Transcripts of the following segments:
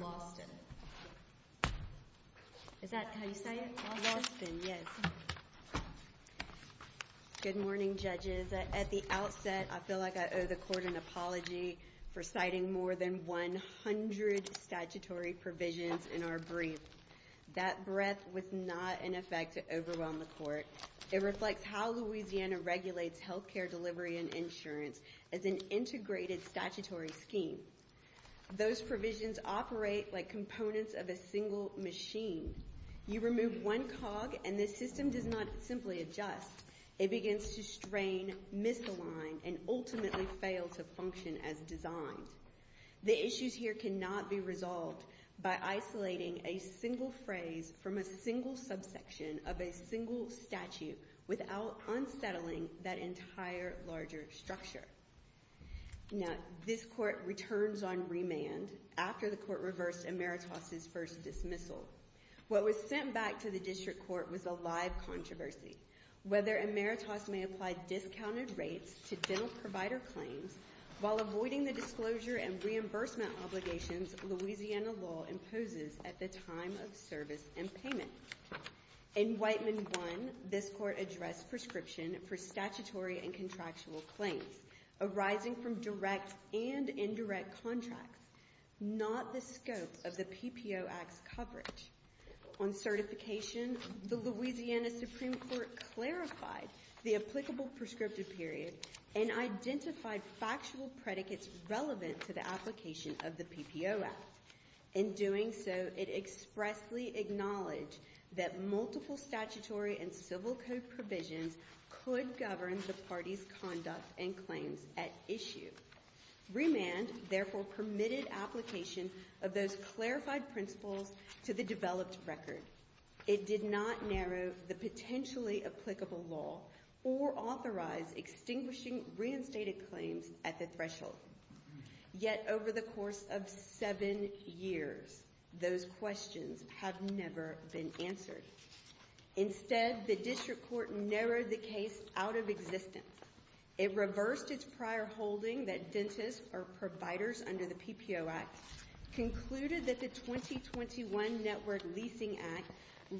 Lawson. Is that how you say it? Lawson, yes. Good morning, judges. At the outset, I feel like I owe the court an apology for citing more than 100 statutory provisions in our brief. That breath was not an effect to overwhelm the court. It reflects how Louisiana regulates health care delivery and insurance as an integrated statutory scheme. Those provisions operate like components of a single machine. You remove one cog and the system does not simply adjust. It begins to strain, misalign, and ultimately fail to function as designed. The issues here cannot be resolved by isolating a single phrase from a single subsection of a single statute without unsettling that entire larger structure. Now, this court returns on remand after the court reversed Ameritas' first dismissal. What was sent back to the district court was a live controversy. Whether Ameritas may apply discounted rates to dental provider claims while avoiding the disclosure and reimbursement obligations Louisiana law imposes at the time of service and payment. In Wightman 1, this court addressed prescription for statutory and contractual claims arising from direct and indirect contracts, not the scope of the Louisiana Supreme Court clarified the applicable prescriptive period and identified factual predicates relevant to the application of the PPO Act. In doing so, it expressly acknowledged that multiple statutory and civil code provisions could govern the party's conduct and claims at issue. Remand therefore permitted application of those clarified principles to the developed record. It did not narrow the potentially applicable law or authorize extinguishing reinstated claims at the threshold. Yet, over the course of seven years, those questions have never been answered. Instead, the district court narrowed the case out of existence. It reversed its prior holding that dentists or providers under the PPO Act concluded that the 2021 Network Leasing Act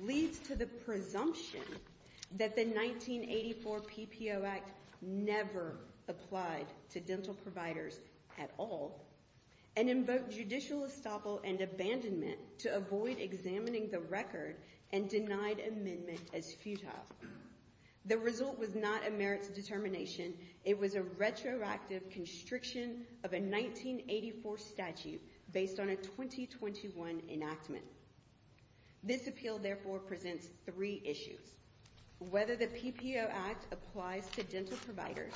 leads to the presumption that the 1984 PPO Act never applied to dental providers at all and invoked judicial estoppel and abandonment to avoid examining the record and denied amendment as futile. The result was not a merits determination. It was a retroactive constriction of a 1984 statute based on a 2021 enactment. This appeal therefore presents three issues. Whether the PPO Act applies to dental providers,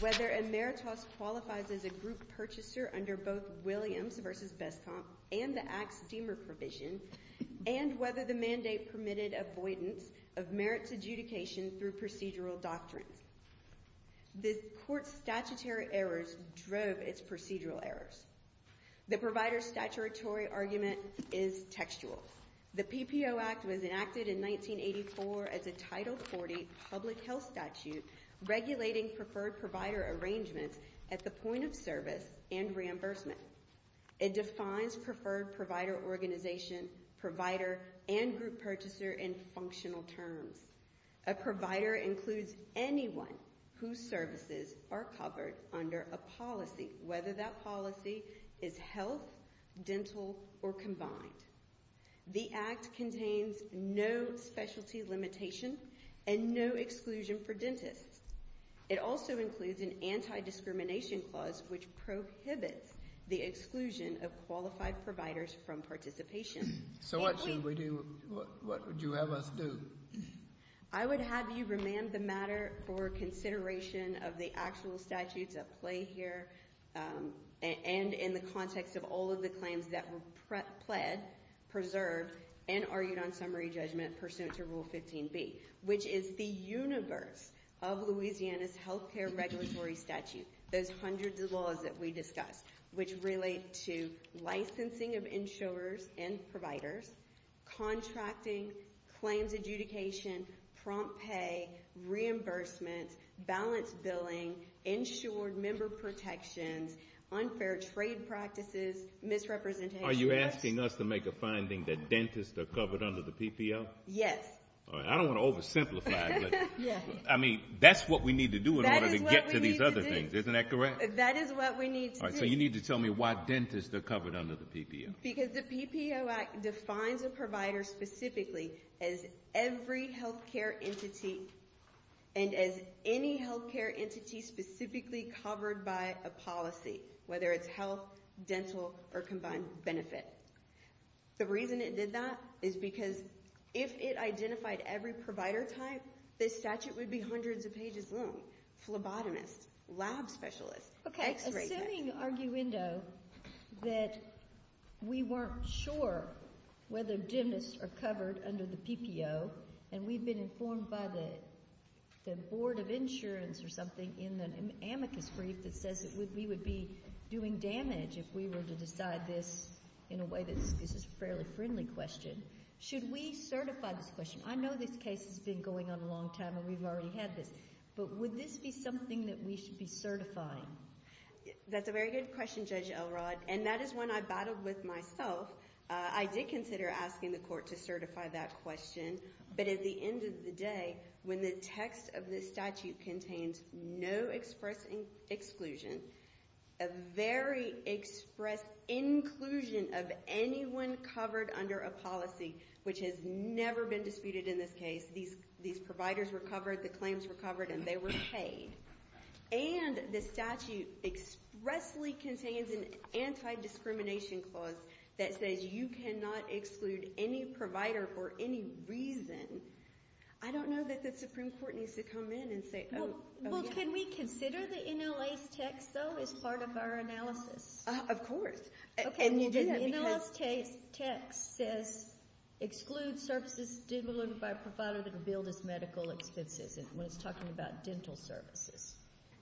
whether Emeritus qualifies as a group purchaser under both Williams v. Bestomp and the Act's Deamer provision, and whether the mandate permitted avoidance of merits adjudication through procedural doctrines. The court's statutory errors drove its procedural errors. The provider's statutory argument is textual. The PPO Act was enacted in 1984 as a Title 40 public health statute regulating preferred provider arrangements at the point of service and reimbursement. It defines preferred provider organization, provider, and group purchaser in functional terms. A provider includes anyone whose services are covered under a policy, whether that policy is health, dental, or combined. The Act contains no specialty limitation and no exclusion for dentists. It also includes an anti-discrimination clause which prohibits the exclusion of qualified I would have you remand the matter for consideration of the actual statutes at play here and in the context of all of the claims that were pled, preserved, and argued on summary judgment pursuant to Rule 15b, which is the universe of Louisiana's health care regulatory statute. Those hundreds of laws that we discussed, which relate to licensing of insurers and providers, contracting, claims adjudication, prompt pay, reimbursement, balanced billing, insured member protections, unfair trade practices, misrepresentation. Are you asking us to make a finding that dentists are covered under the PPO? Yes. I don't want to oversimplify, I mean that's what we need to do in order to get to these other things, isn't that correct? That is what we need to do. So you need to tell me why dentists are covered under the PPO. Because the PPO Act defines a provider specifically as every health care entity and as any health care entity specifically covered by a policy, whether it's health, dental, or combined benefit. The reason it did that is because if it identified every provider type, this statute would be hundreds of pages long. Phlebotomist, lab specialist, x-ray tech. Okay, assuming arguendo that we weren't sure whether dentists are covered under the PPO and we've been informed by the board of insurance or something in the amicus brief that says that we would be doing damage if we were to decide this in a way that's, this is a fairly friendly question, should we certify this question? I know this case has been going on a long time and we've already had this, but would this be something that we should be certifying? That's a very good question, Judge Elrod, and that is one I battled with myself. I did consider asking the court to certify that question, but at the end of the day, when the text of this statute contains no express exclusion, a very express inclusion of anyone covered under a policy, which has never been disputed in this case, these providers were covered, the claims were covered, and they were paid, and the statute expressly contains an anti-discrimination clause that says you cannot exclude any provider for any reason, I don't know that the Supreme Court needs to come in and say, oh yeah. Well, can we consider the NLA's text, though, as part of our analysis? Of course. In the last case, the text says exclude services stimulated by a provider that can bill this medical expenses, and when it's talking about dental services.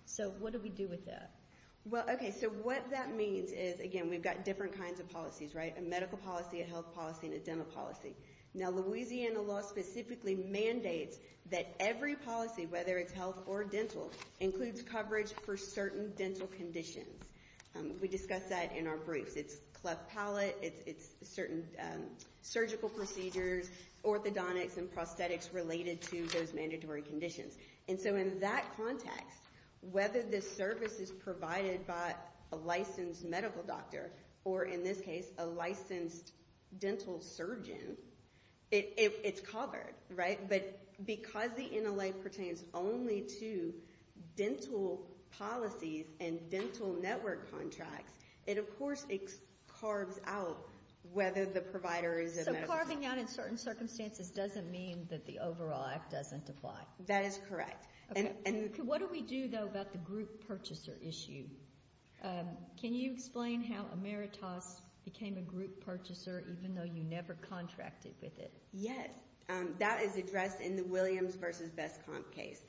So what do we do with that? Well, okay, so what that means is, again, we've got different kinds of policies, right? A medical policy, a health policy, and a dental policy. Now, Louisiana law specifically mandates that every policy, whether it's health or dental, includes coverage for certain dental conditions. We discuss that in our briefs. It's cleft palate, it's certain surgical procedures, orthodontics, and prosthetics related to those mandatory conditions. And so in that context, whether the service is provided by a licensed medical doctor, or in this case, a licensed dental surgeon, it's covered, right? But because the NLA pertains only to dental policies and dental network contracts, it, of course, carves out whether the provider is a medical doctor. So carving out in certain circumstances doesn't mean that the overall act doesn't apply. That is correct. What do we do, though, about the group purchaser issue? Can you explain how Emeritus became a group purchaser, even though you never contracted with it? Yes. That is addressed in the Williams v. Beskamp case.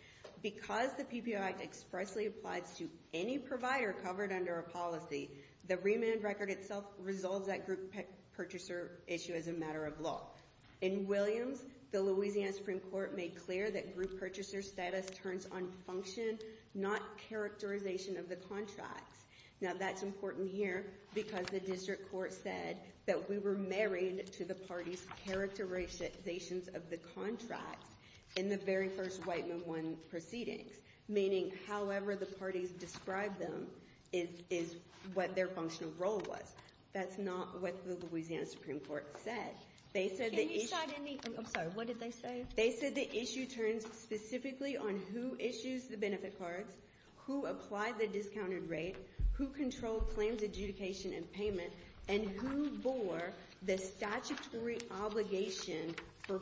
Because the PPO Act expressly applies to any provider covered under a policy, the remand record itself resolves that group purchaser issue as a matter of law. In Williams, the Louisiana Supreme Court made clear that group purchaser status turns on function, not characterization of the contracts. Now, characterizations of the contract in the very first Whiteman 1 proceedings, meaning however the parties described them, is what their functional role was. That's not what the Louisiana Supreme Court said. Can you cite any, I'm sorry, what did they say? They said the issue turns specifically on who issues the benefit cards, who applied the discounted rate, who controlled claims adjudication and payment, and who bore the statutory obligation for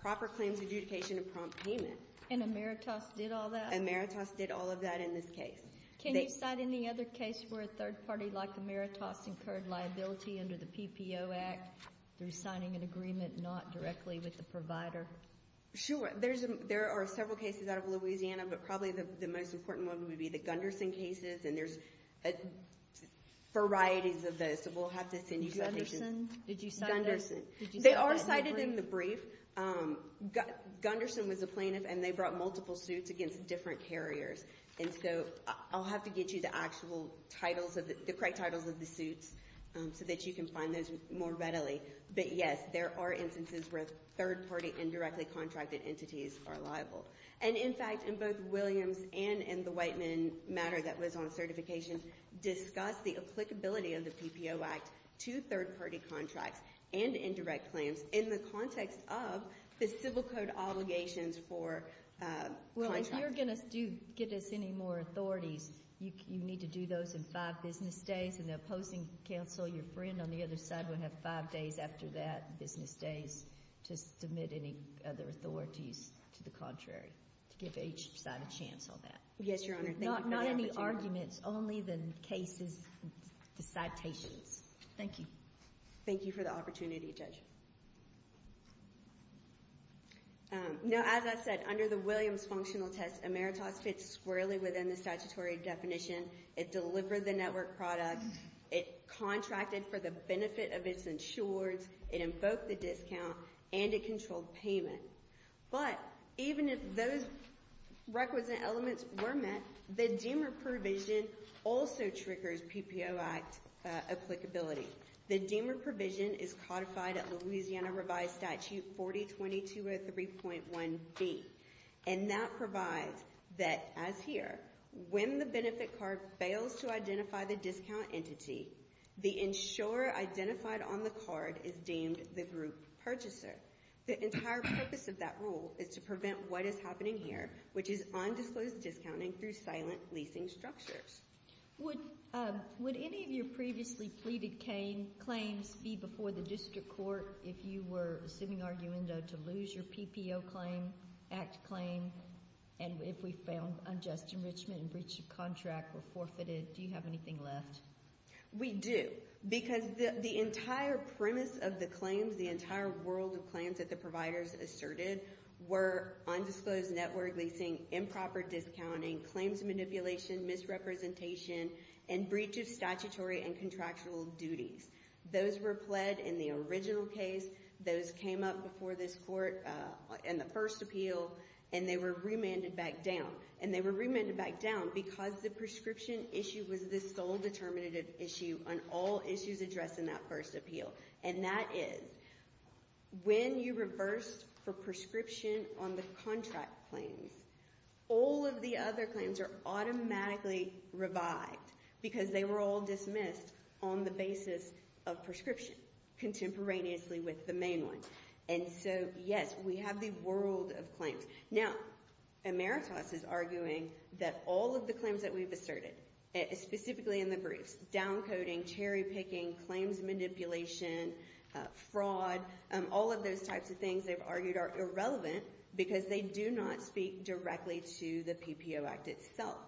proper claims adjudication and prompt payment. And Emeritus did all that? Emeritus did all of that in this case. Can you cite any other case where a third party like Emeritus incurred liability under the PPO Act through signing an agreement not directly with the provider? Sure. There are several cases out of Louisiana, but probably the most important one would be the Gunderson cases, and there's varieties of those, so we'll have to send you submissions. Did you cite Gunderson? They are cited in the brief. Gunderson was a plaintiff, and they brought multiple suits against different carriers, and so I'll have to get you the actual titles of the, the correct titles of the suits so that you can find those more readily. But yes, there are instances where third-party indirectly contracted entities are liable. And in fact, in both Williams and in the Whiteman matter that was on certification, discussed the applicability of the PPO Act to third-party contracts and indirect claims in the context of the civil code obligations for contracts. Well, if you're going to give us any more authorities, you need to do those in five business days, and the opposing counsel, your friend on the other side, would have five days after that business days to submit any other authorities to the contrary, to give each side a chance on that. Yes, Your Honor. Thank you for the opportunity. Not any arguments, only the cases, the citations. Thank you. Thank you for the opportunity, Judge. Now, as I said, under the Williams functional test, Emeritus fits squarely within the statutory definition. It delivered the network product. It contracted for the benefit of its insureds. It invoked the discount, and it controlled payment. But even if those requisite elements were met, the Deamer provision also triggers PPO Act applicability. The Deamer provision is codified at Louisiana Revised Statute 40-2203.1b, and that provides that, as here, when the benefit card fails to identify the discount entity, the insurer identified on the card is deemed the group purchaser. The entire purpose of that rule is to prevent what is happening here, which is undisclosed discounting through silent leasing structures. Would any of your previously pleaded claims be before the district court if you were sitting arguendo to lose your PPO claim, Act claim, and if we found unjust enrichment and breach of contract were forfeited? Do you have anything left? We do, because the entire premise of the claims, the entire world of claims that the providers asserted, were undisclosed network leasing, improper discounting, claims manipulation, misrepresentation, and breach of statutory and contractual duties. Those were pled in the original case. Those came up before this court in the first appeal, and they were remanded back down, and they were remanded back down because the prescription issue was the sole determinative issue on all issues addressed in that first appeal, and that is when you reversed for prescription on the contract claims, all of the other claims are automatically revived because they were all dismissed on the basis of prescription contemporaneously with the main one, and so yes, we have the world of claims. Now, Emeritus is arguing that all of the claims that we've asserted, specifically in the briefs, downcoding, cherry picking, claims manipulation, fraud, all of those types of things they've argued are irrelevant because they do not speak directly to the PPO Act itself,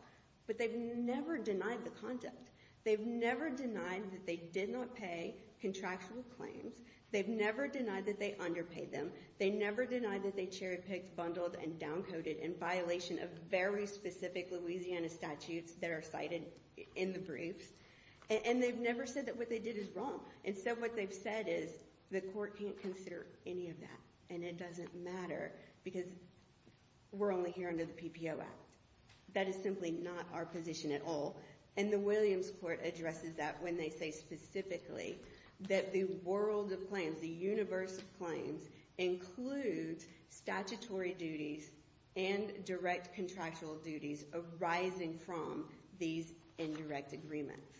but they've never denied the conduct. They've never denied that they did not pay contractual claims. They've never denied that they underpaid them. They never denied that they cherry picked, bundled, and downcoded in violation of very specific Louisiana statutes that are cited in the briefs, and they've never said that what they did is wrong, and so what they've said is the court can't consider any of that, and it doesn't matter because we're only here under the PPO Act. That is simply not our position at all, and the Williams Court addresses that when they say specifically that the world of claims, the universe of claims, includes statutory duties and direct contractual duties arising from these indirect agreements.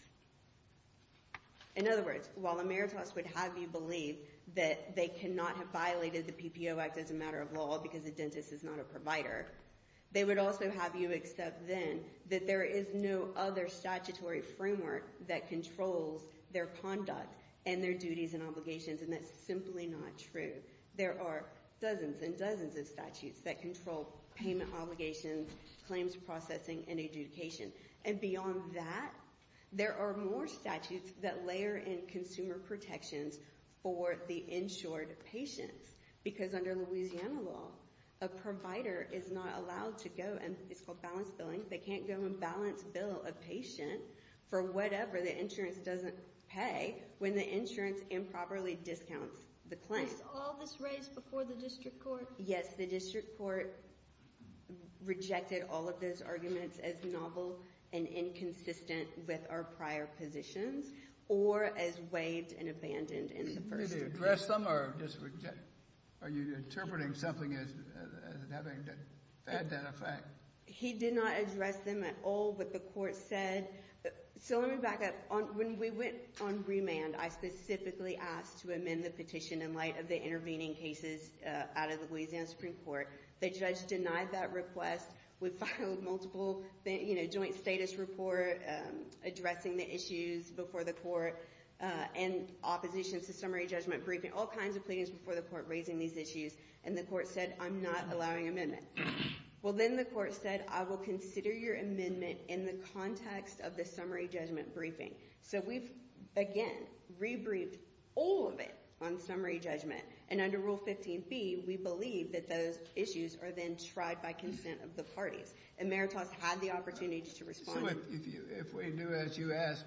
In other words, while Emeritus would have you believe that they cannot have violated the PPO Act as a matter of law because the dentist is not a provider, they would also have you accept then that there is no other statutory framework that controls their conduct and their duties and obligations, and that's simply not true. There are dozens and dozens of statutes that control payment obligations, claims processing, and adjudication, and beyond that, there are more statutes that layer in consumer protections for the insured patients because under Louisiana law, a provider is not allowed to go, and it's called balance billing, they can't go and balance bill a patient for whatever the insurance doesn't pay when the insurance improperly discounts the claim. Was all this raised before the district court? Yes, the district court rejected all of those arguments as novel and inconsistent with our prior positions, or as waived and abandoned in the first degree. Did they address them, or are you interpreting something as having that effect? He did not address them at all, but the court said, so let me back up, when we went on remand, I specifically asked to amend the petition in light of the intervening cases out of the Louisiana Supreme Court. The judge denied that request. We filed multiple, you know, joint status report addressing the issues before the court, and oppositions to summary judgment briefing, all kinds of pleadings before the court raising these issues, and the court said, I'm not allowing amendment. Well, then the court said, I will consider your amendment in the context of the summary judgment briefing. So we've, again, re-briefed all of it on summary judgment, and under Rule 15b, we believe that those issues are then tried by consent of the parties. Emeritus had the opportunity to respond. So if we do as you ask,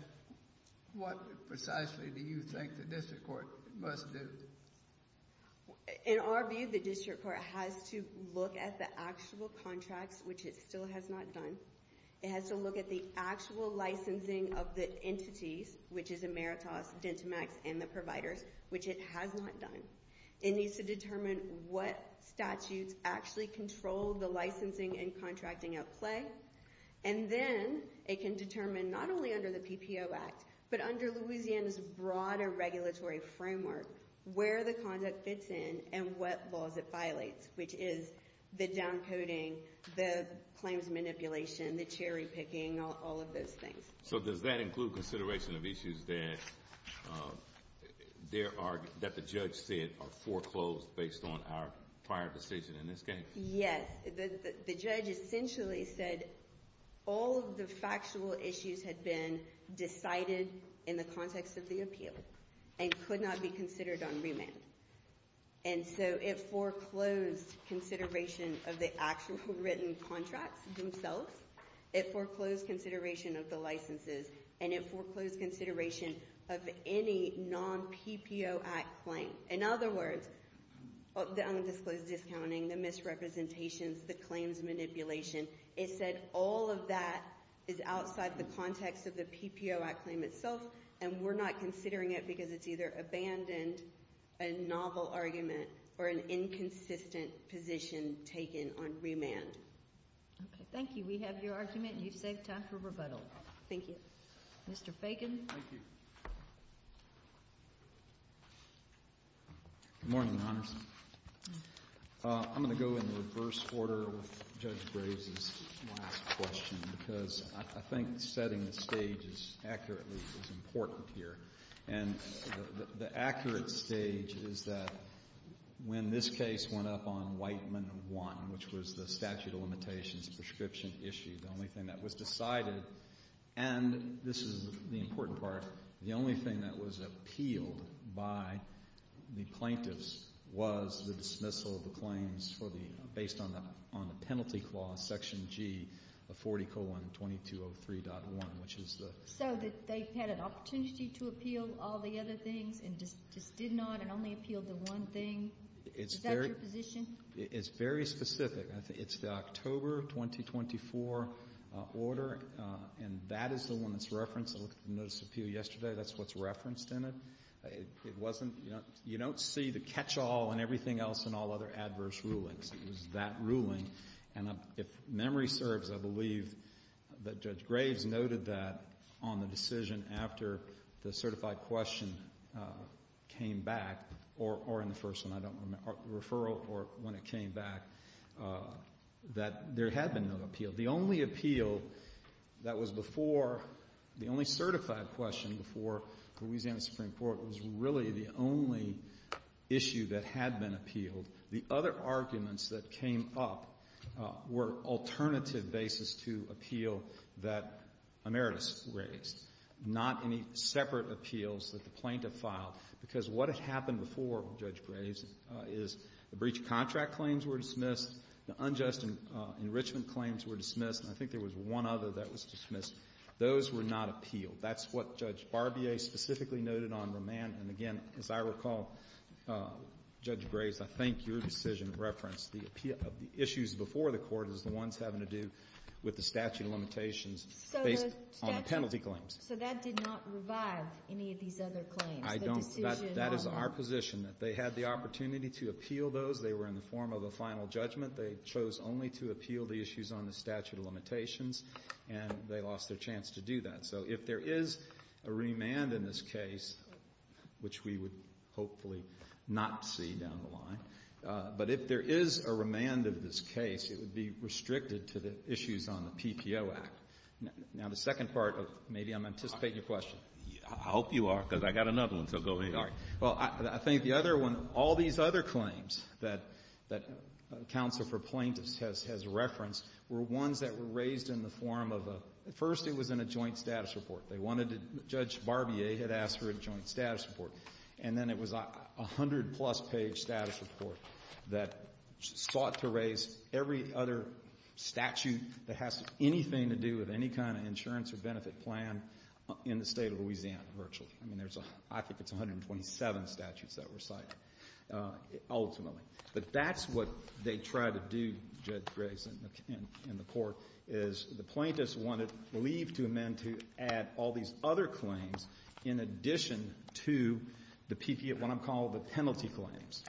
what precisely do you think the district court must do? In our view, the district court has to look at the actual contracts, which it still has not done. It has to look at the actual licensing of the entities, which is Emeritus, Dentamax, and the which it has not done. It needs to determine what statutes actually control the licensing and contracting at play, and then it can determine, not only under the PPO Act, but under Louisiana's broader regulatory framework, where the conduct fits in and what laws it violates, which is the downcoding, the claims manipulation, the cherry picking, all of those things. So does that include consideration of issues that there are, that the judge said are foreclosed based on our prior decision in this case? Yes. The judge essentially said all of the factual issues had been decided in the context of the appeal and could not be considered on remand. And so it foreclosed consideration of the actual written contracts themselves. It foreclosed consideration of the licenses, and it foreclosed consideration of any non-PPO Act claim. In other words, the undisclosed discounting, the misrepresentations, the claims manipulation, it said all of that is outside the context of the PPO Act claim itself, and we're not considering it because it's either abandoned, a novel argument, or an inconsistent position taken on remand. Okay, thank you. We have your argument. You've saved time for rebuttal. Thank you. Mr. Fagan. Thank you. Good morning, Your Honors. I'm going to go in reverse order with Judge Braves' last question because I think setting the stage accurately is important here. And the accurate stage is that when this case went up on Whiteman 1, which was the statute of limitations, the prescription issue, the only thing that was decided, and this is the important part, the only thing that was appealed by the plaintiffs was the dismissal of the claims for the, based on the penalty clause, Section G of 40 colon 2203.1, which is the... So that they had an opportunity to appeal all the other things and just did not and only appealed the one thing? Is that your position? It's very specific. It's the October 2024 order, and that is the one that's referenced. I looked at the notice of appeal yesterday. That's what's referenced in it. It wasn't, you don't see the catch-all and everything else in all other adverse rulings. It was that ruling. And if memory serves, I believe that Judge came back, or in the first one, I don't remember, referral or when it came back, that there had been no appeal. The only appeal that was before, the only certified question before Louisiana Supreme Court was really the only issue that had been appealed. The other arguments that came up were alternative basis to appeal that Emeritus raised, not any separate appeals that the court had. Because what had happened before, Judge Graves, is the breach of contract claims were dismissed, the unjust enrichment claims were dismissed, and I think there was one other that was dismissed. Those were not appealed. That's what Judge Barbier specifically noted on remand. And again, as I recall, Judge Graves, I think your decision referenced the appeal of the issues before the court as the ones having to do with the statute of limitations based on the penalty claims. So that did not revive any of these other claims? I don't. That is our position, that they had the opportunity to appeal those. They were in the form of a final judgment. They chose only to appeal the issues on the statute of limitations, and they lost their chance to do that. So if there is a remand in this case, which we would hopefully not see down the line, but if there is a remand of this case, it would be restricted to the issues on the PPO Act. Now, the second part of maybe I'm anticipating your question. I hope you are, because I got another one, so go ahead. All right. Well, I think the other one, all these other claims that Counsel for Plaintiffs has referenced were ones that were raised in the form of a — first, it was in a joint status report. They wanted to — Judge Barbier had asked for a joint status report. And then it was a hundred-plus-page status report that sought to raise every other statute that has anything to do with any kind of insurance or benefit plan in the State of Louisiana, virtually. I mean, there's a — I think it's 127 statutes that were cited, ultimately. But that's what they tried to do, Judge Grayson and the Court, is the plaintiffs wanted leave to amend to add all these other claims in addition to the PP — what I'm calling the penalty claims.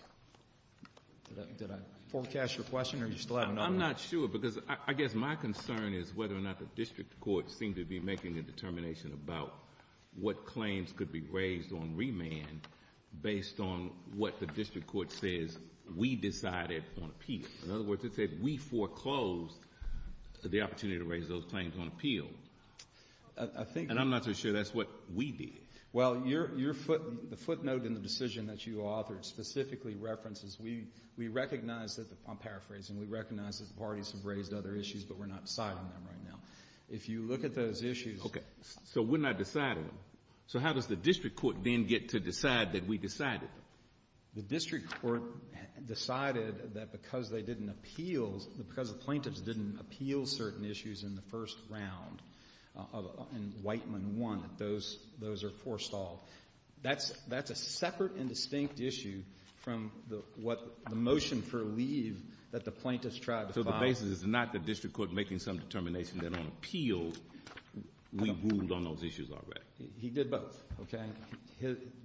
Did I forecast your question, or do you still have another one? I'm not sure, because I guess my concern is whether or not the district courts seem to be making a determination about what claims could be raised on remand based on what the district court says we decided on appeal. In other words, it said we foreclosed the opportunity to raise those claims on appeal. I think — And I'm not sure that's what we did. Well, your footnote in the decision that you authored specifically references — we recognize that — I'm paraphrasing — we recognize that the parties have raised other issues, but we're not deciding them right now. If you look at those issues — Okay. So we're not deciding them. So how does the district court then get to decide that we decided them? The district court decided that because they didn't appeal — because the plaintiffs didn't appeal certain issues in the first round, in Whiteman I, that those — those are forestalled. That's — that's a separate and distinct issue from the — what the motion for leave that the plaintiffs tried to file. So the basis is not the district court making some determination that on appeal, we ruled on those issues already. He did both, okay?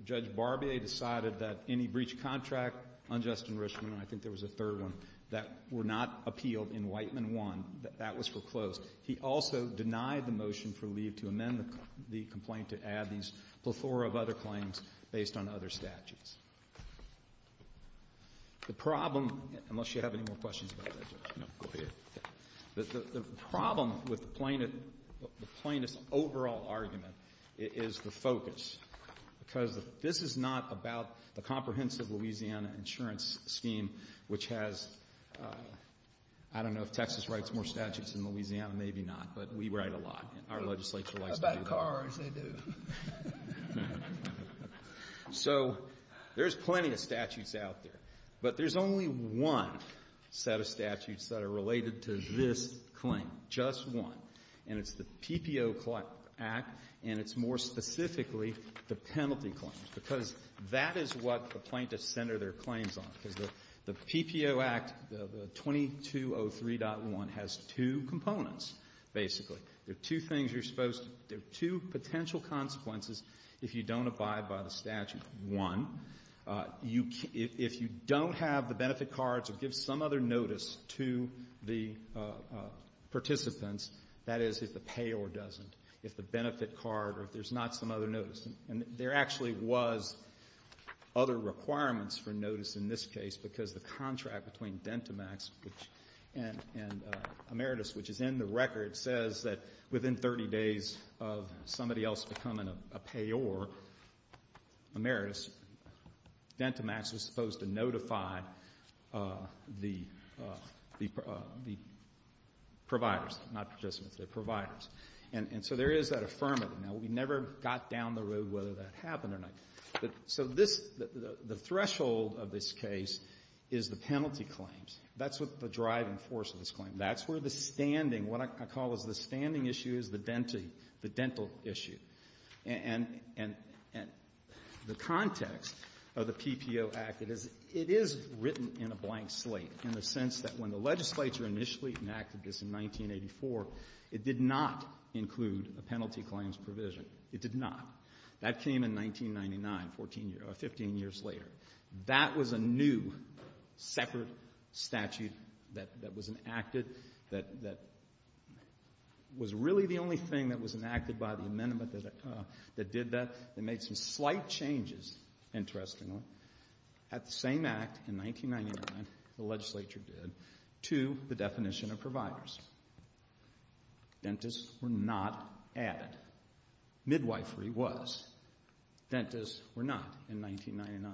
Judge Barbier decided that any breach of contract on Justin Richman — I think there was a third one — that were not appealed in Whiteman I, that that was foreclosed. He also denied the motion for leave to amend the complaint to add these plethora of other claims based on other statutes. The problem — unless you have any more questions about that, Judge. No. Go ahead. The problem with the plaintiff — the plaintiff's overall argument is the focus, because this is not about the comprehensive Louisiana insurance scheme, which has — I don't know if Texas writes more statutes than Louisiana. Maybe not. But we write a lot. Our legislature likes to do that. About cars, they do. So there's plenty of statutes out there. But there's only one set of statutes that are related to this claim. Just one. And it's the PPO Act, and it's more specifically the penalty claims, because that is what the plaintiffs center their claims on, because the PPO Act, 2203.1, has two components, basically. There are two things you're supposed to — there are two potential consequences if you don't abide by the statute. One, you — if you don't have the benefit cards or give some other notice to the participants, that is, if the payor doesn't, if the benefit card or if there's not some other notice. And there actually was other requirements for notice in this case, because the contract between Dentamax and Emeritus, which is in the record, says that within 30 days of somebody else becoming a payor, Emeritus, Dentamax was supposed to notify the providers, not participants, the providers. And so there is that affirmative. Now, we never got down the road whether that happened or not. So this — the threshold of this case is the penalty claims. That's what the driving force of this claim. That's where the standing — what I call as the standing issue is the dental issue. And the context of the PPO Act, it is — it is written in a blank slate in the sense that when the legislature initially enacted this in 1984, it did not include a penalty claims provision. It did not. That came in 1999, 14 years — or 15 years later. That was a new, separate statute that — that was enacted, that — that was really the only thing that was enacted by the amendment that — that did that. It made some slight changes, interestingly, at the same act in 1999, the legislature did, to the definition of providers. Dentists were not added. Midwifery was. Dentists were not in 1999.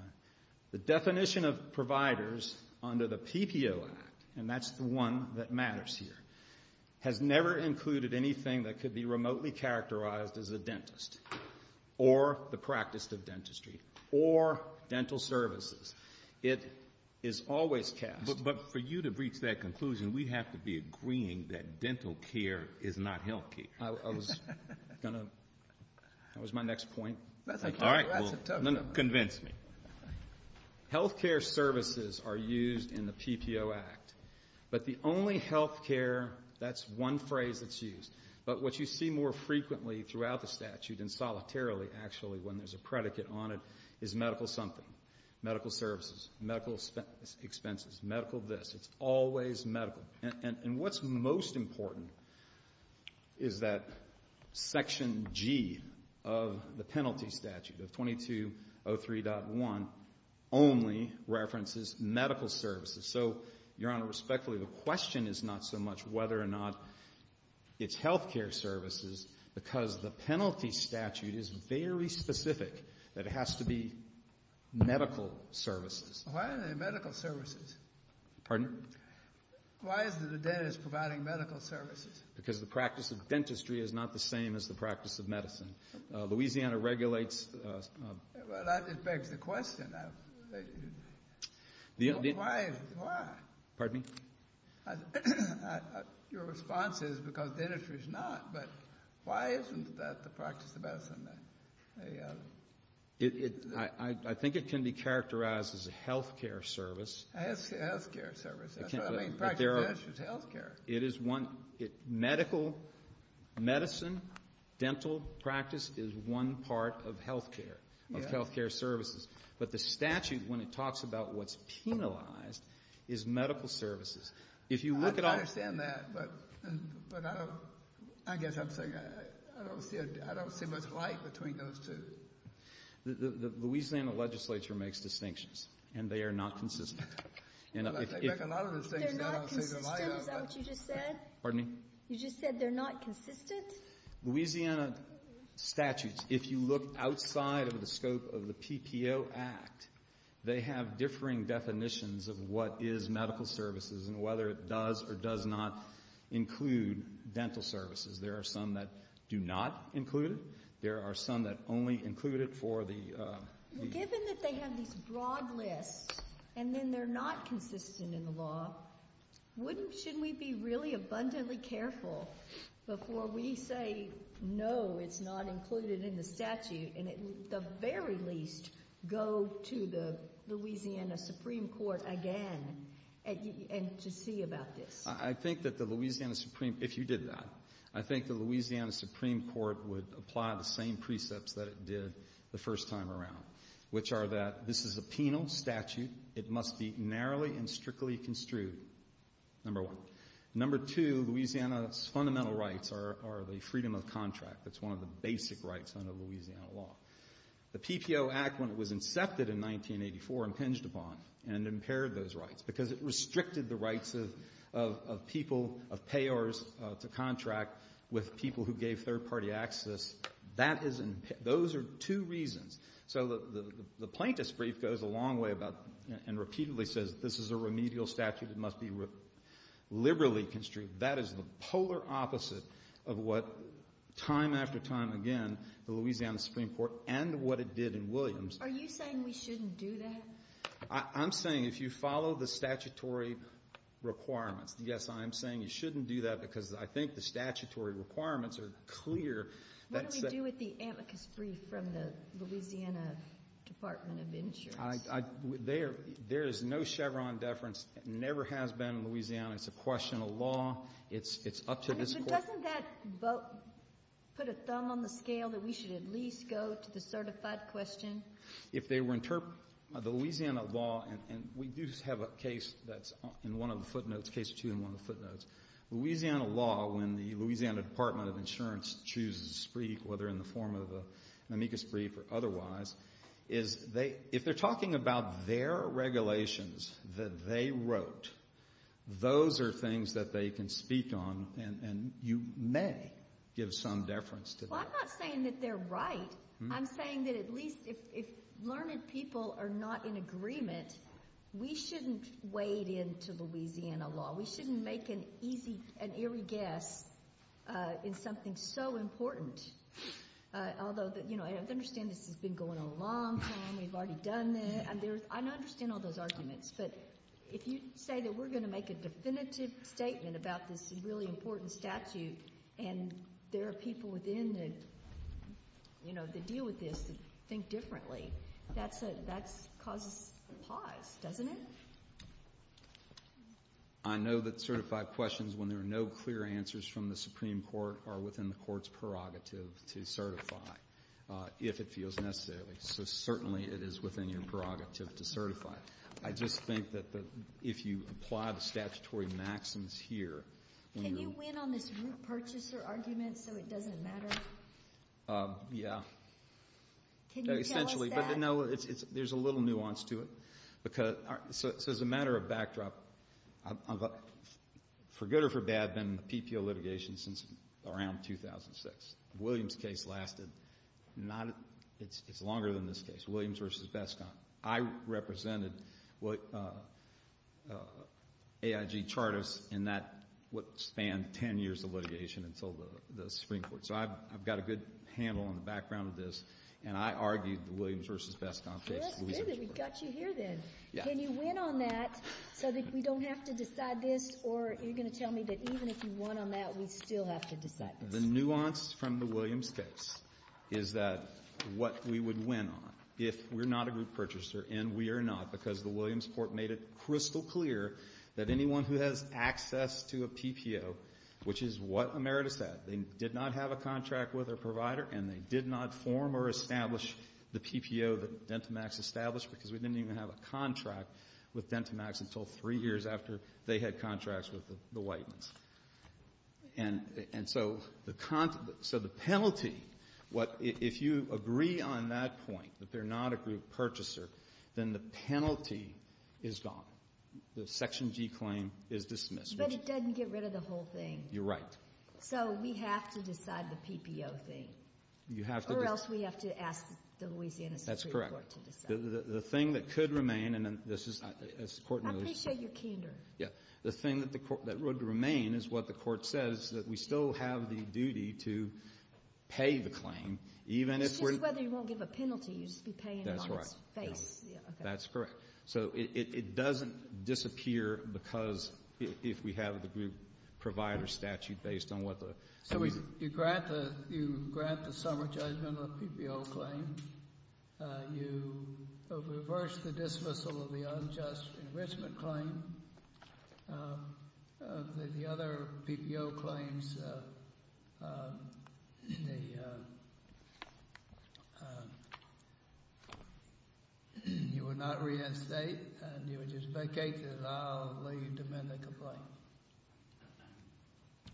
The definition of providers under the PPO Act — and that's the one that matters here — has never included anything that could be remotely characterized as a dentist or the practice of dentistry or dental services. It is always cast — But — but for you to reach that conclusion, we have to be agreeing that dental care is not health care. I was going to — that was my next point. All right. Well, convince me. Health care services are used in the PPO Act. But the only health care — that's one phrase that's used. But what you see more frequently throughout the statute, and solitarily, actually, when there's a predicate on it, is medical something, medical services, medical expenses, medical this. It's always medical. And what's most important is that Section G of the penalty statute, of 2203.1, only references medical services. So, Your Honor, respectfully, the question is not so much whether or not it's health care services, because the penalty statute is very specific that it has to be medical services. Why are there medical services? Pardon? Why is the dentist providing medical services? Because the practice of dentistry is not the same as the practice of medicine. Louisiana regulates — Well, that begs the question. Why? Why? Pardon me? Your response is because dentistry is not. But why isn't that the practice of medicine? I think it can be characterized as a health care service. A health care service. That's what I mean. Practice dentistry is health care. It is one — medical — medicine, dental practice is one part of health care, of health care. I don't understand that, but I don't — I guess I'm saying I don't see much light between those two. The Louisiana legislature makes distinctions, and they are not consistent. They make a lot of distinctions, and I don't see the light of them. They're not consistent? Is that what you just said? Pardon me? You just said they're not consistent? Louisiana statutes, if you look outside of the scope of the PPO Act, they have differing definitions of what is medical services and whether it does or does not include dental services. There are some that do not include it. There are some that only include it for the — Well, given that they have these broad lists, and then they're not consistent in the law, wouldn't — shouldn't we be really abundantly careful before we say, no, it's not included in the statute, and at the very least, go to the Louisiana Supreme Court again and to see about this? I think that the Louisiana Supreme — if you did that, I think the Louisiana Supreme Court would apply the same precepts that it did the first time around, which are that this is a penal statute. It must be narrowly and strictly construed, number one. Number two, Louisiana's fundamental rights are the freedom of contract. That's one of the basic rights under Louisiana law. The PPO Act, when it was incepted in 1984, impinged upon and impaired those rights because it restricted the rights of people, of payors to contract with people who gave third-party access. That is — those are two reasons. So the plaintiff's brief goes a long way about — and repeatedly says this is a remedial statute. It must be liberally construed. That is the polar opposite of what, time after time again, the Louisiana Supreme Court and what it did in Williams — Are you saying we shouldn't do that? I'm saying if you follow the statutory requirements — yes, I am saying you shouldn't do that because I think the statutory requirements are clear. What do we do with the amicus brief from the Louisiana Department of Insurance? There is no Chevron deference. It never has been in Louisiana. It's a question of law. It's up to this Court. I mean, but doesn't that vote put a thumb on the scale that we should at least go to the certified question? If they were interpret — the Louisiana law — and we do have a case that's in one of the footnotes, case or two in one of the footnotes. Louisiana law, when the Louisiana Department of Insurance chooses a brief, whether in the form of an amicus brief or otherwise, is they — if they're talking about their regulations that they wrote, those are things that they can speak on and you may give some deference to them. Well, I'm not saying that they're right. I'm saying that at least if learned people are not in agreement, we shouldn't wade into Louisiana law. We shouldn't make an easy and eerie guess in something so important. Although, you know, I understand this has been going on a long time. We've already done this. I understand all those arguments. But if you say that we're going to make a definitive statement about this really important statute and there are people within that, you know, that deal with this that think differently, that's a — that causes pause, doesn't it? I know that certified questions, when there are no clear answers from the Supreme Court, are within the Court's prerogative to certify, if it feels necessary. So certainly, it is within your prerogative to certify. I just think that the — if you apply the statutory maxims here, when you're — Can you win on this root purchaser argument so it doesn't matter? Yeah. Can you tell us that? Essentially. But no, it's — there's a little nuance to it. Because — so as a matter of backdrop, for good or for bad, I've been in the PPO litigation since around 2006. Williams' case lasted not — it's longer than this case, Williams v. Beskamp. I represented what AIG Charters in that — what spanned 10 years of litigation until the Supreme Court. So I've got a good handle on the background of this. And I argued the Williams v. Beskamp case. Well, that's good. We've got you here, then. Yeah. Can you win on that so that we don't have to decide this? Or are you going to tell me that even if you won on that, we still have to decide this? The nuance from the Williams case is that what we would win on if we're not a root purchaser — and we are not, because the Williams court made it crystal clear that anyone who has access to a PPO, which is what Emeritus said, they did not have a contract with their provider and they did not form or establish the PPO that DentiMax established because we didn't even have a contract with DentiMax until three years after they had contracts with the Whiteman's. And so the penalty, what — if you agree on that point, that they're not a group purchaser, then the penalty is gone. The Section G claim is dismissed, which — But it doesn't get rid of the whole thing. You're right. So we have to decide the PPO thing. You have to — Or else we have to ask the Louisiana Supreme Court to decide. That's correct. The thing that could remain, and this is — I appreciate your candor. Yeah. The thing that would remain is what the court says, that we still have the duty to pay the claim, even if we — It's just whether you won't give a penalty. You'll just be paying it on its face. That's right. That's correct. So it doesn't disappear because if we have the group provider statute based on what the — So you grant the — you grant the summer judgment on the PPO claim. You reverse the dismissal of the unjust enrichment claim. The other PPO claims, the — you will not get a penalty.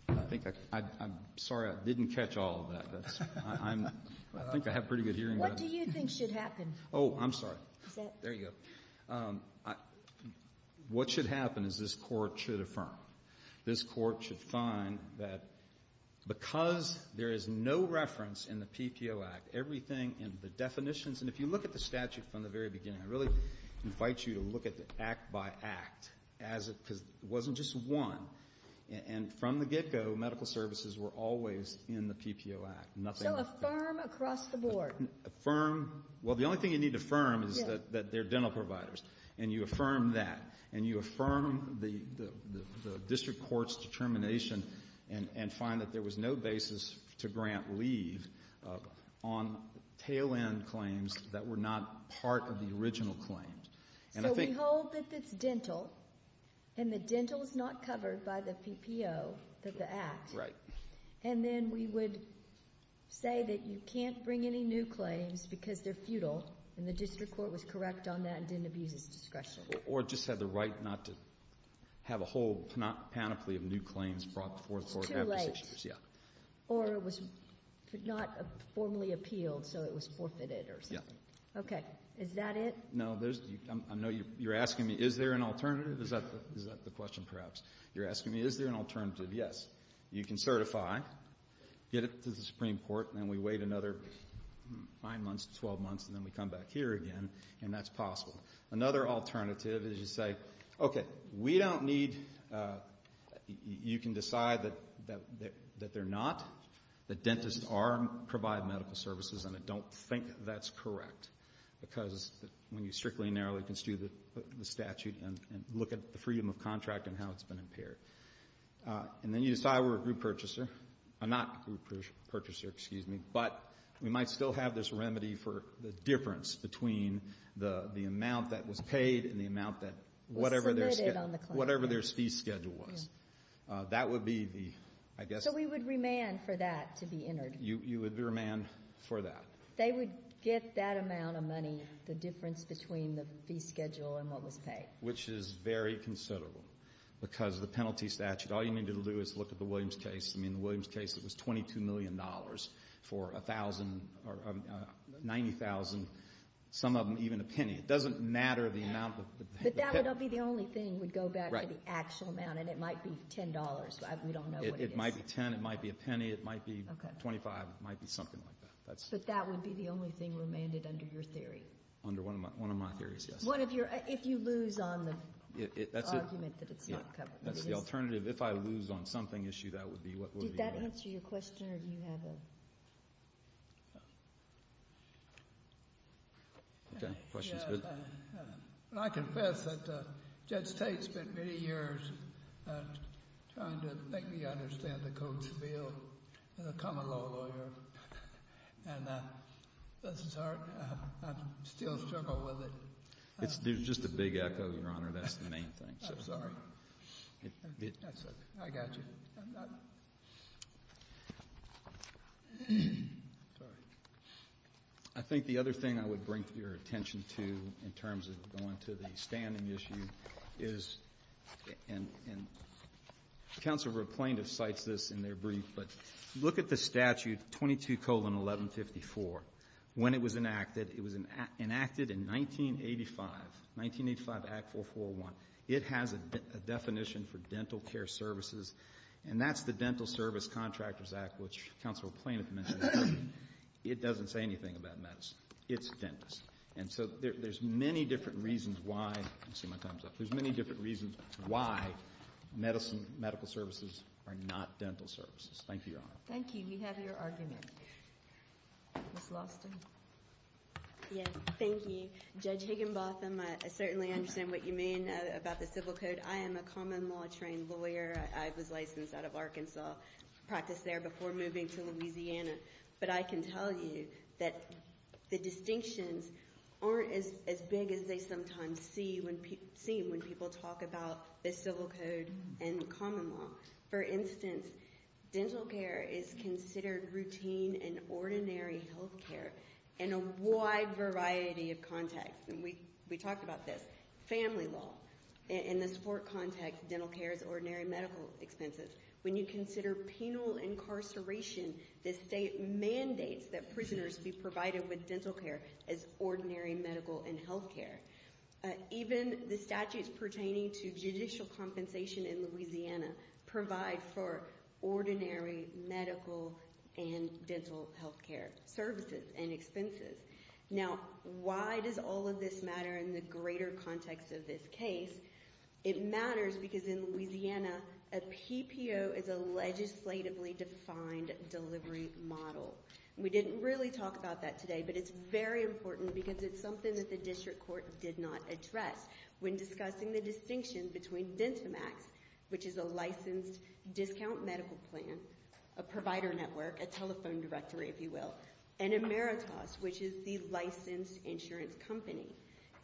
I think I — I'm sorry. I didn't catch all of that. That's — I'm — I think I have pretty good hearing. What do you think should happen? Oh, I'm sorry. Is that — There you go. What should happen is this Court should affirm. This Court should find that because there is no reference in the PPO Act, everything in the definitions — and if you look at the statute from the very beginning, I really invite you to look at the act-by-act as it — because it wasn't just one. And from the get-go, medical services were always in the PPO Act. Nothing — So affirm across the board. Affirm — well, the only thing you need to affirm is that they're dental providers. And you affirm that. And you affirm the district court's determination and find that there was no basis to grant leave on tail-end claims that were not part of the original claims. So we hold that that's dental, and the dental is not covered by the PPO — the act. Right. And then we would say that you can't bring any new claims because they're futile, and the district court was correct on that and didn't abuse its discretion. Or just had the right not to have a whole panoply of new claims brought forth for — It's too late. Yeah. Or it was not formally appealed, so it was forfeited or something. Yeah. Okay. Is that it? No, there's — I know you're asking me, is there an alternative? Is that the question, perhaps? You're asking me, is there an alternative? Yes. You can certify, get it to the Supreme Court, and then we wait another 5 months to 12 months, and then we come back here again, and that's possible. Another alternative is you say, okay, we don't need — you can decide that they're not, that dentists are — provide medical services, and I don't think that's correct. Because when you strictly and narrowly construe the statute and look at the freedom of contract and how it's been impaired. And then you decide we're a group purchaser — not a group purchaser, excuse me, but we might still have this remedy for the difference between the amount that was paid and the amount that whatever their — Was submitted on the claim. Whatever their fee schedule was. Yeah. That would be the, I guess — So we would remand for that to be entered. You would remand for that. They would get that amount of money, the difference between the fee schedule and what was paid. Which is very considerable, because the penalty statute, all you need to do is look at the Williams case. I mean, the Williams case, it was $22 million for a thousand — or 90,000, some of them even a penny. It doesn't matter the amount that — But that would be the only thing would go back to the actual amount, and it might be $10. We don't know what it is. It might be $10. It might be a penny. It might be $25. It might be something like that. But that would be the only thing remanded under your theory? Under one of my theories, yes. One of your — if you lose on the argument that it's not covered. That's the alternative. If I lose on something issue, that would be what — Did that answer your question, or do you have a — Okay. Questions, Bill? Yeah. I confess that Judge Tate spent many years trying to make me understand the codes of the common law lawyer, and this is hard. I still struggle with it. It's just a big echo, Your Honor. That's the main thing. I'm sorry. That's okay. I got you. I'm not — Sorry. I think the other thing I would bring your attention to in terms of going to the standing issue is, and Counselor Plaintiff cites this in their brief, but look at the statute 22-1154. When it was enacted, it was enacted in 1985, 1985 Act 441. It has a definition for dental care services, and that's the Dental Service Contractors Act, which Counselor Plaintiff mentioned. It doesn't say anything about medicine. It's dentists. And so there's many different reasons why — I see my time's up — there's many different reasons why medicine, medical services are not dental services. Thank you, Your Honor. Thank you. We have your argument. Ms. Lawston? Yes. Thank you. Judge Higginbotham, I certainly understand what you mean about the civil code. I am a common law trained lawyer. I was licensed out of Arkansas, practiced there before moving to Louisiana. But I can tell you that the distinctions aren't as big as they sometimes seem when people talk about the civil code and common law. For instance, dental care is considered routine and ordinary health care in a wide variety of contexts. And we talked about this. Family law, in the sport context, dental care is ordinary medical expenses. When you consider penal incarceration, the state mandates that prisoners be provided with dental care as ordinary medical and health care. Even the statutes pertaining to judicial compensation in Louisiana provide for ordinary medical and dental health care services and expenses. Now, why does all of this matter in the greater context of this case? It matters because in Louisiana, a PPO is a legislatively defined delivery model. We didn't really talk about that today, but it's very important because it's something that the district court did not address when discussing the distinction between Dentamax, which is a licensed discount medical plan, a provider network, a telephone directory, if you will, and Emeritas, which is the licensed insurance company.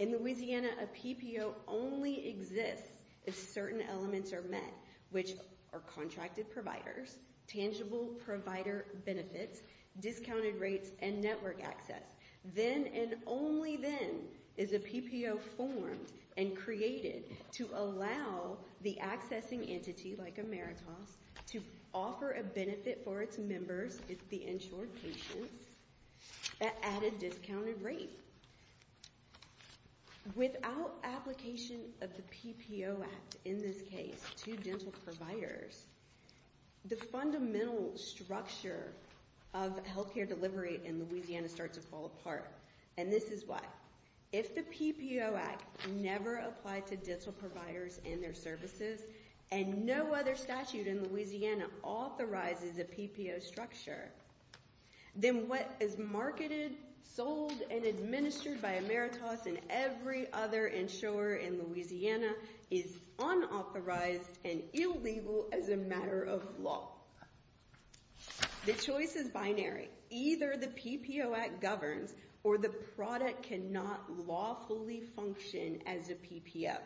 In Louisiana, a PPO only exists if certain elements are met, which are contracted providers, tangible provider benefits, discounted rates, and network access. Then and only then is a PPO formed and created to allow the accessing entity, like Emeritas, to offer a benefit for its members, the insured patients, at an added discounted rate. Without application of the PPO Act in this case to dental providers, the fundamental structure of health care delivery in Louisiana starts to fall apart. And this is why. If the PPO Act never applied to dental providers and their services, and no other statute in Louisiana authorizes a PPO structure, then what is marketed, sold, and administered by Emeritas and every other insurer in Louisiana is unauthorized and illegal as a matter of law. The choice is binary. Either the PPO Act governs or the product cannot lawfully function as a PPO.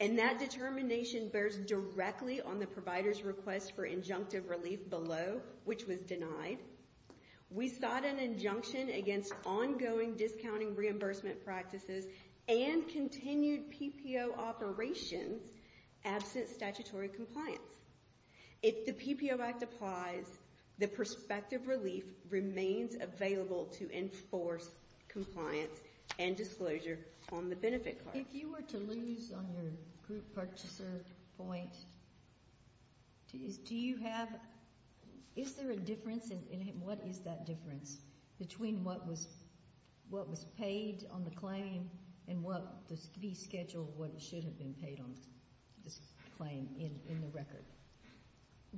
And that determination bears directly on the provider's request for injunctive relief below, which was denied. We sought an injunction against ongoing discounting reimbursement practices and continued PPO operations absent statutory compliance. If the PPO Act applies, the prospective relief remains available to enforce compliance and disclosure on the benefit card. If you were to lose on your group purchaser point, is there a difference, and what is that difference, between what was paid on the claim and what should have been paid on the claim in the record?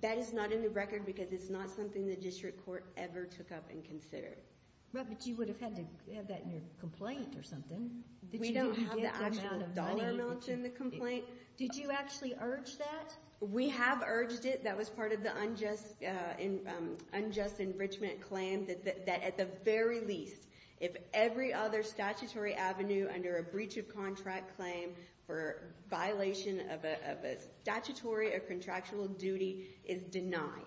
That is not in the record because it's not something the district court ever took up and considered. Right, but you would have had to have that in your complaint or something. We don't have the actual dollar amount in the complaint. Did you actually urge that? We have urged it. That was part of the unjust enrichment claim that at the very least, if every other statutory avenue under a breach of contract claim for violation of a statutory or contractual duty is denied.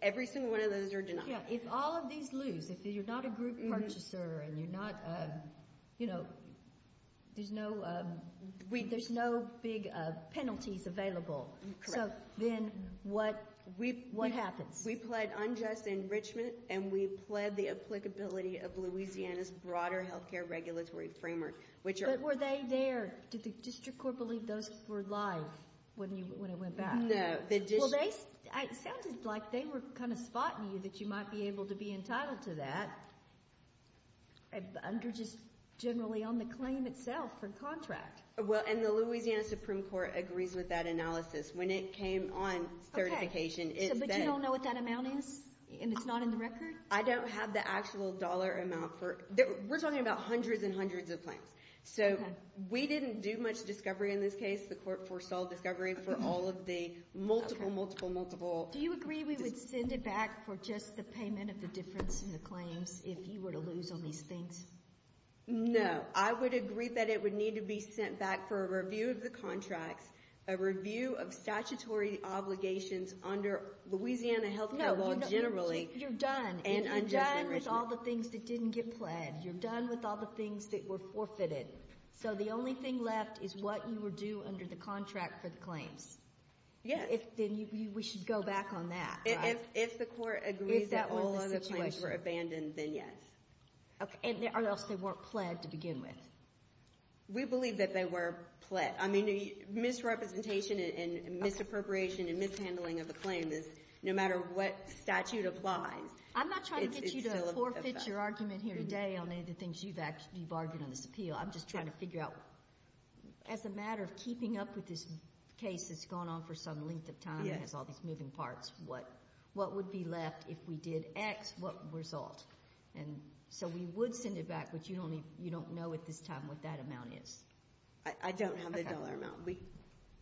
Every single one of those are denied. If all of these lose, if you're not a group purchaser and there's no big penalties available, then what happens? We pled unjust enrichment and we pled the applicability of Louisiana's broader health care regulatory framework. But were they there? Did the district court believe those were live when it went back? No. Well, it sounded like they were kind of spotting you that you might be able to be entitled to that under just generally on the claim itself for contract. The Louisiana Supreme Court agrees with that analysis. When it came on certification, it said... But you don't know what that amount is and it's not in the record? I don't have the actual dollar amount. We're talking about hundreds and hundreds of claims. We didn't do much discovery in this case. The court foresaw discovery for all of the multiple, multiple, multiple... Do you agree we would send it back for just the payment of the difference in the claims if you were to lose on these things? No. I would agree that it would need to be sent back for a review of the contracts, a review of statutory obligations under Louisiana health care law generally... No, you're done. You're done with all the things that didn't get pled. You're done with all the things that were forfeited. So the only thing left is what you would do under the contract for the claims? Yes. Then we should go back on that, right? If the court agrees that all other claims were abandoned, then yes. Or else they weren't pled to begin with? We believe that they were pled. I mean, misrepresentation and misappropriation and mishandling of the claims, no matter what statute applies... I'm not trying to get you to forfeit your argument here today on any of the things you bargained on this appeal. I'm just trying to figure out, as a matter of keeping up with this case that's gone on for some length of time and has all these moving parts, what would be left if we did X, what result? So we would send it back, but you don't know at this time what that amount is. I don't have the dollar amount.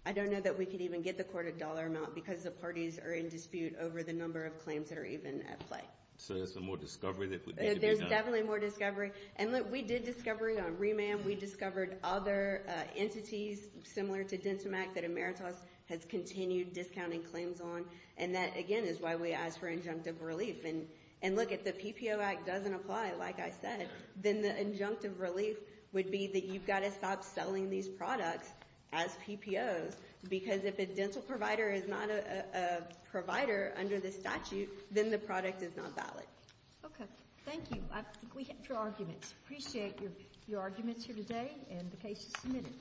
I don't know that we could even get the court a dollar amount because the parties are in dispute over the number of claims that are even at play. So there's more discovery that would need to be done? There's definitely more discovery. And look, we did discovery on Reman. We discovered other entities similar to Dentamac that Emeritus has continued discounting claims on. And that, again, is why we asked for injunctive relief. And look, if the PPO Act doesn't apply, like I said, then the injunctive relief would be that you've got to stop selling these products as PPOs. Because if a dental provider is not a provider under the statute, then the product is not valid. Okay. Thank you. We have your arguments. Appreciate your arguments here today and the cases submitted.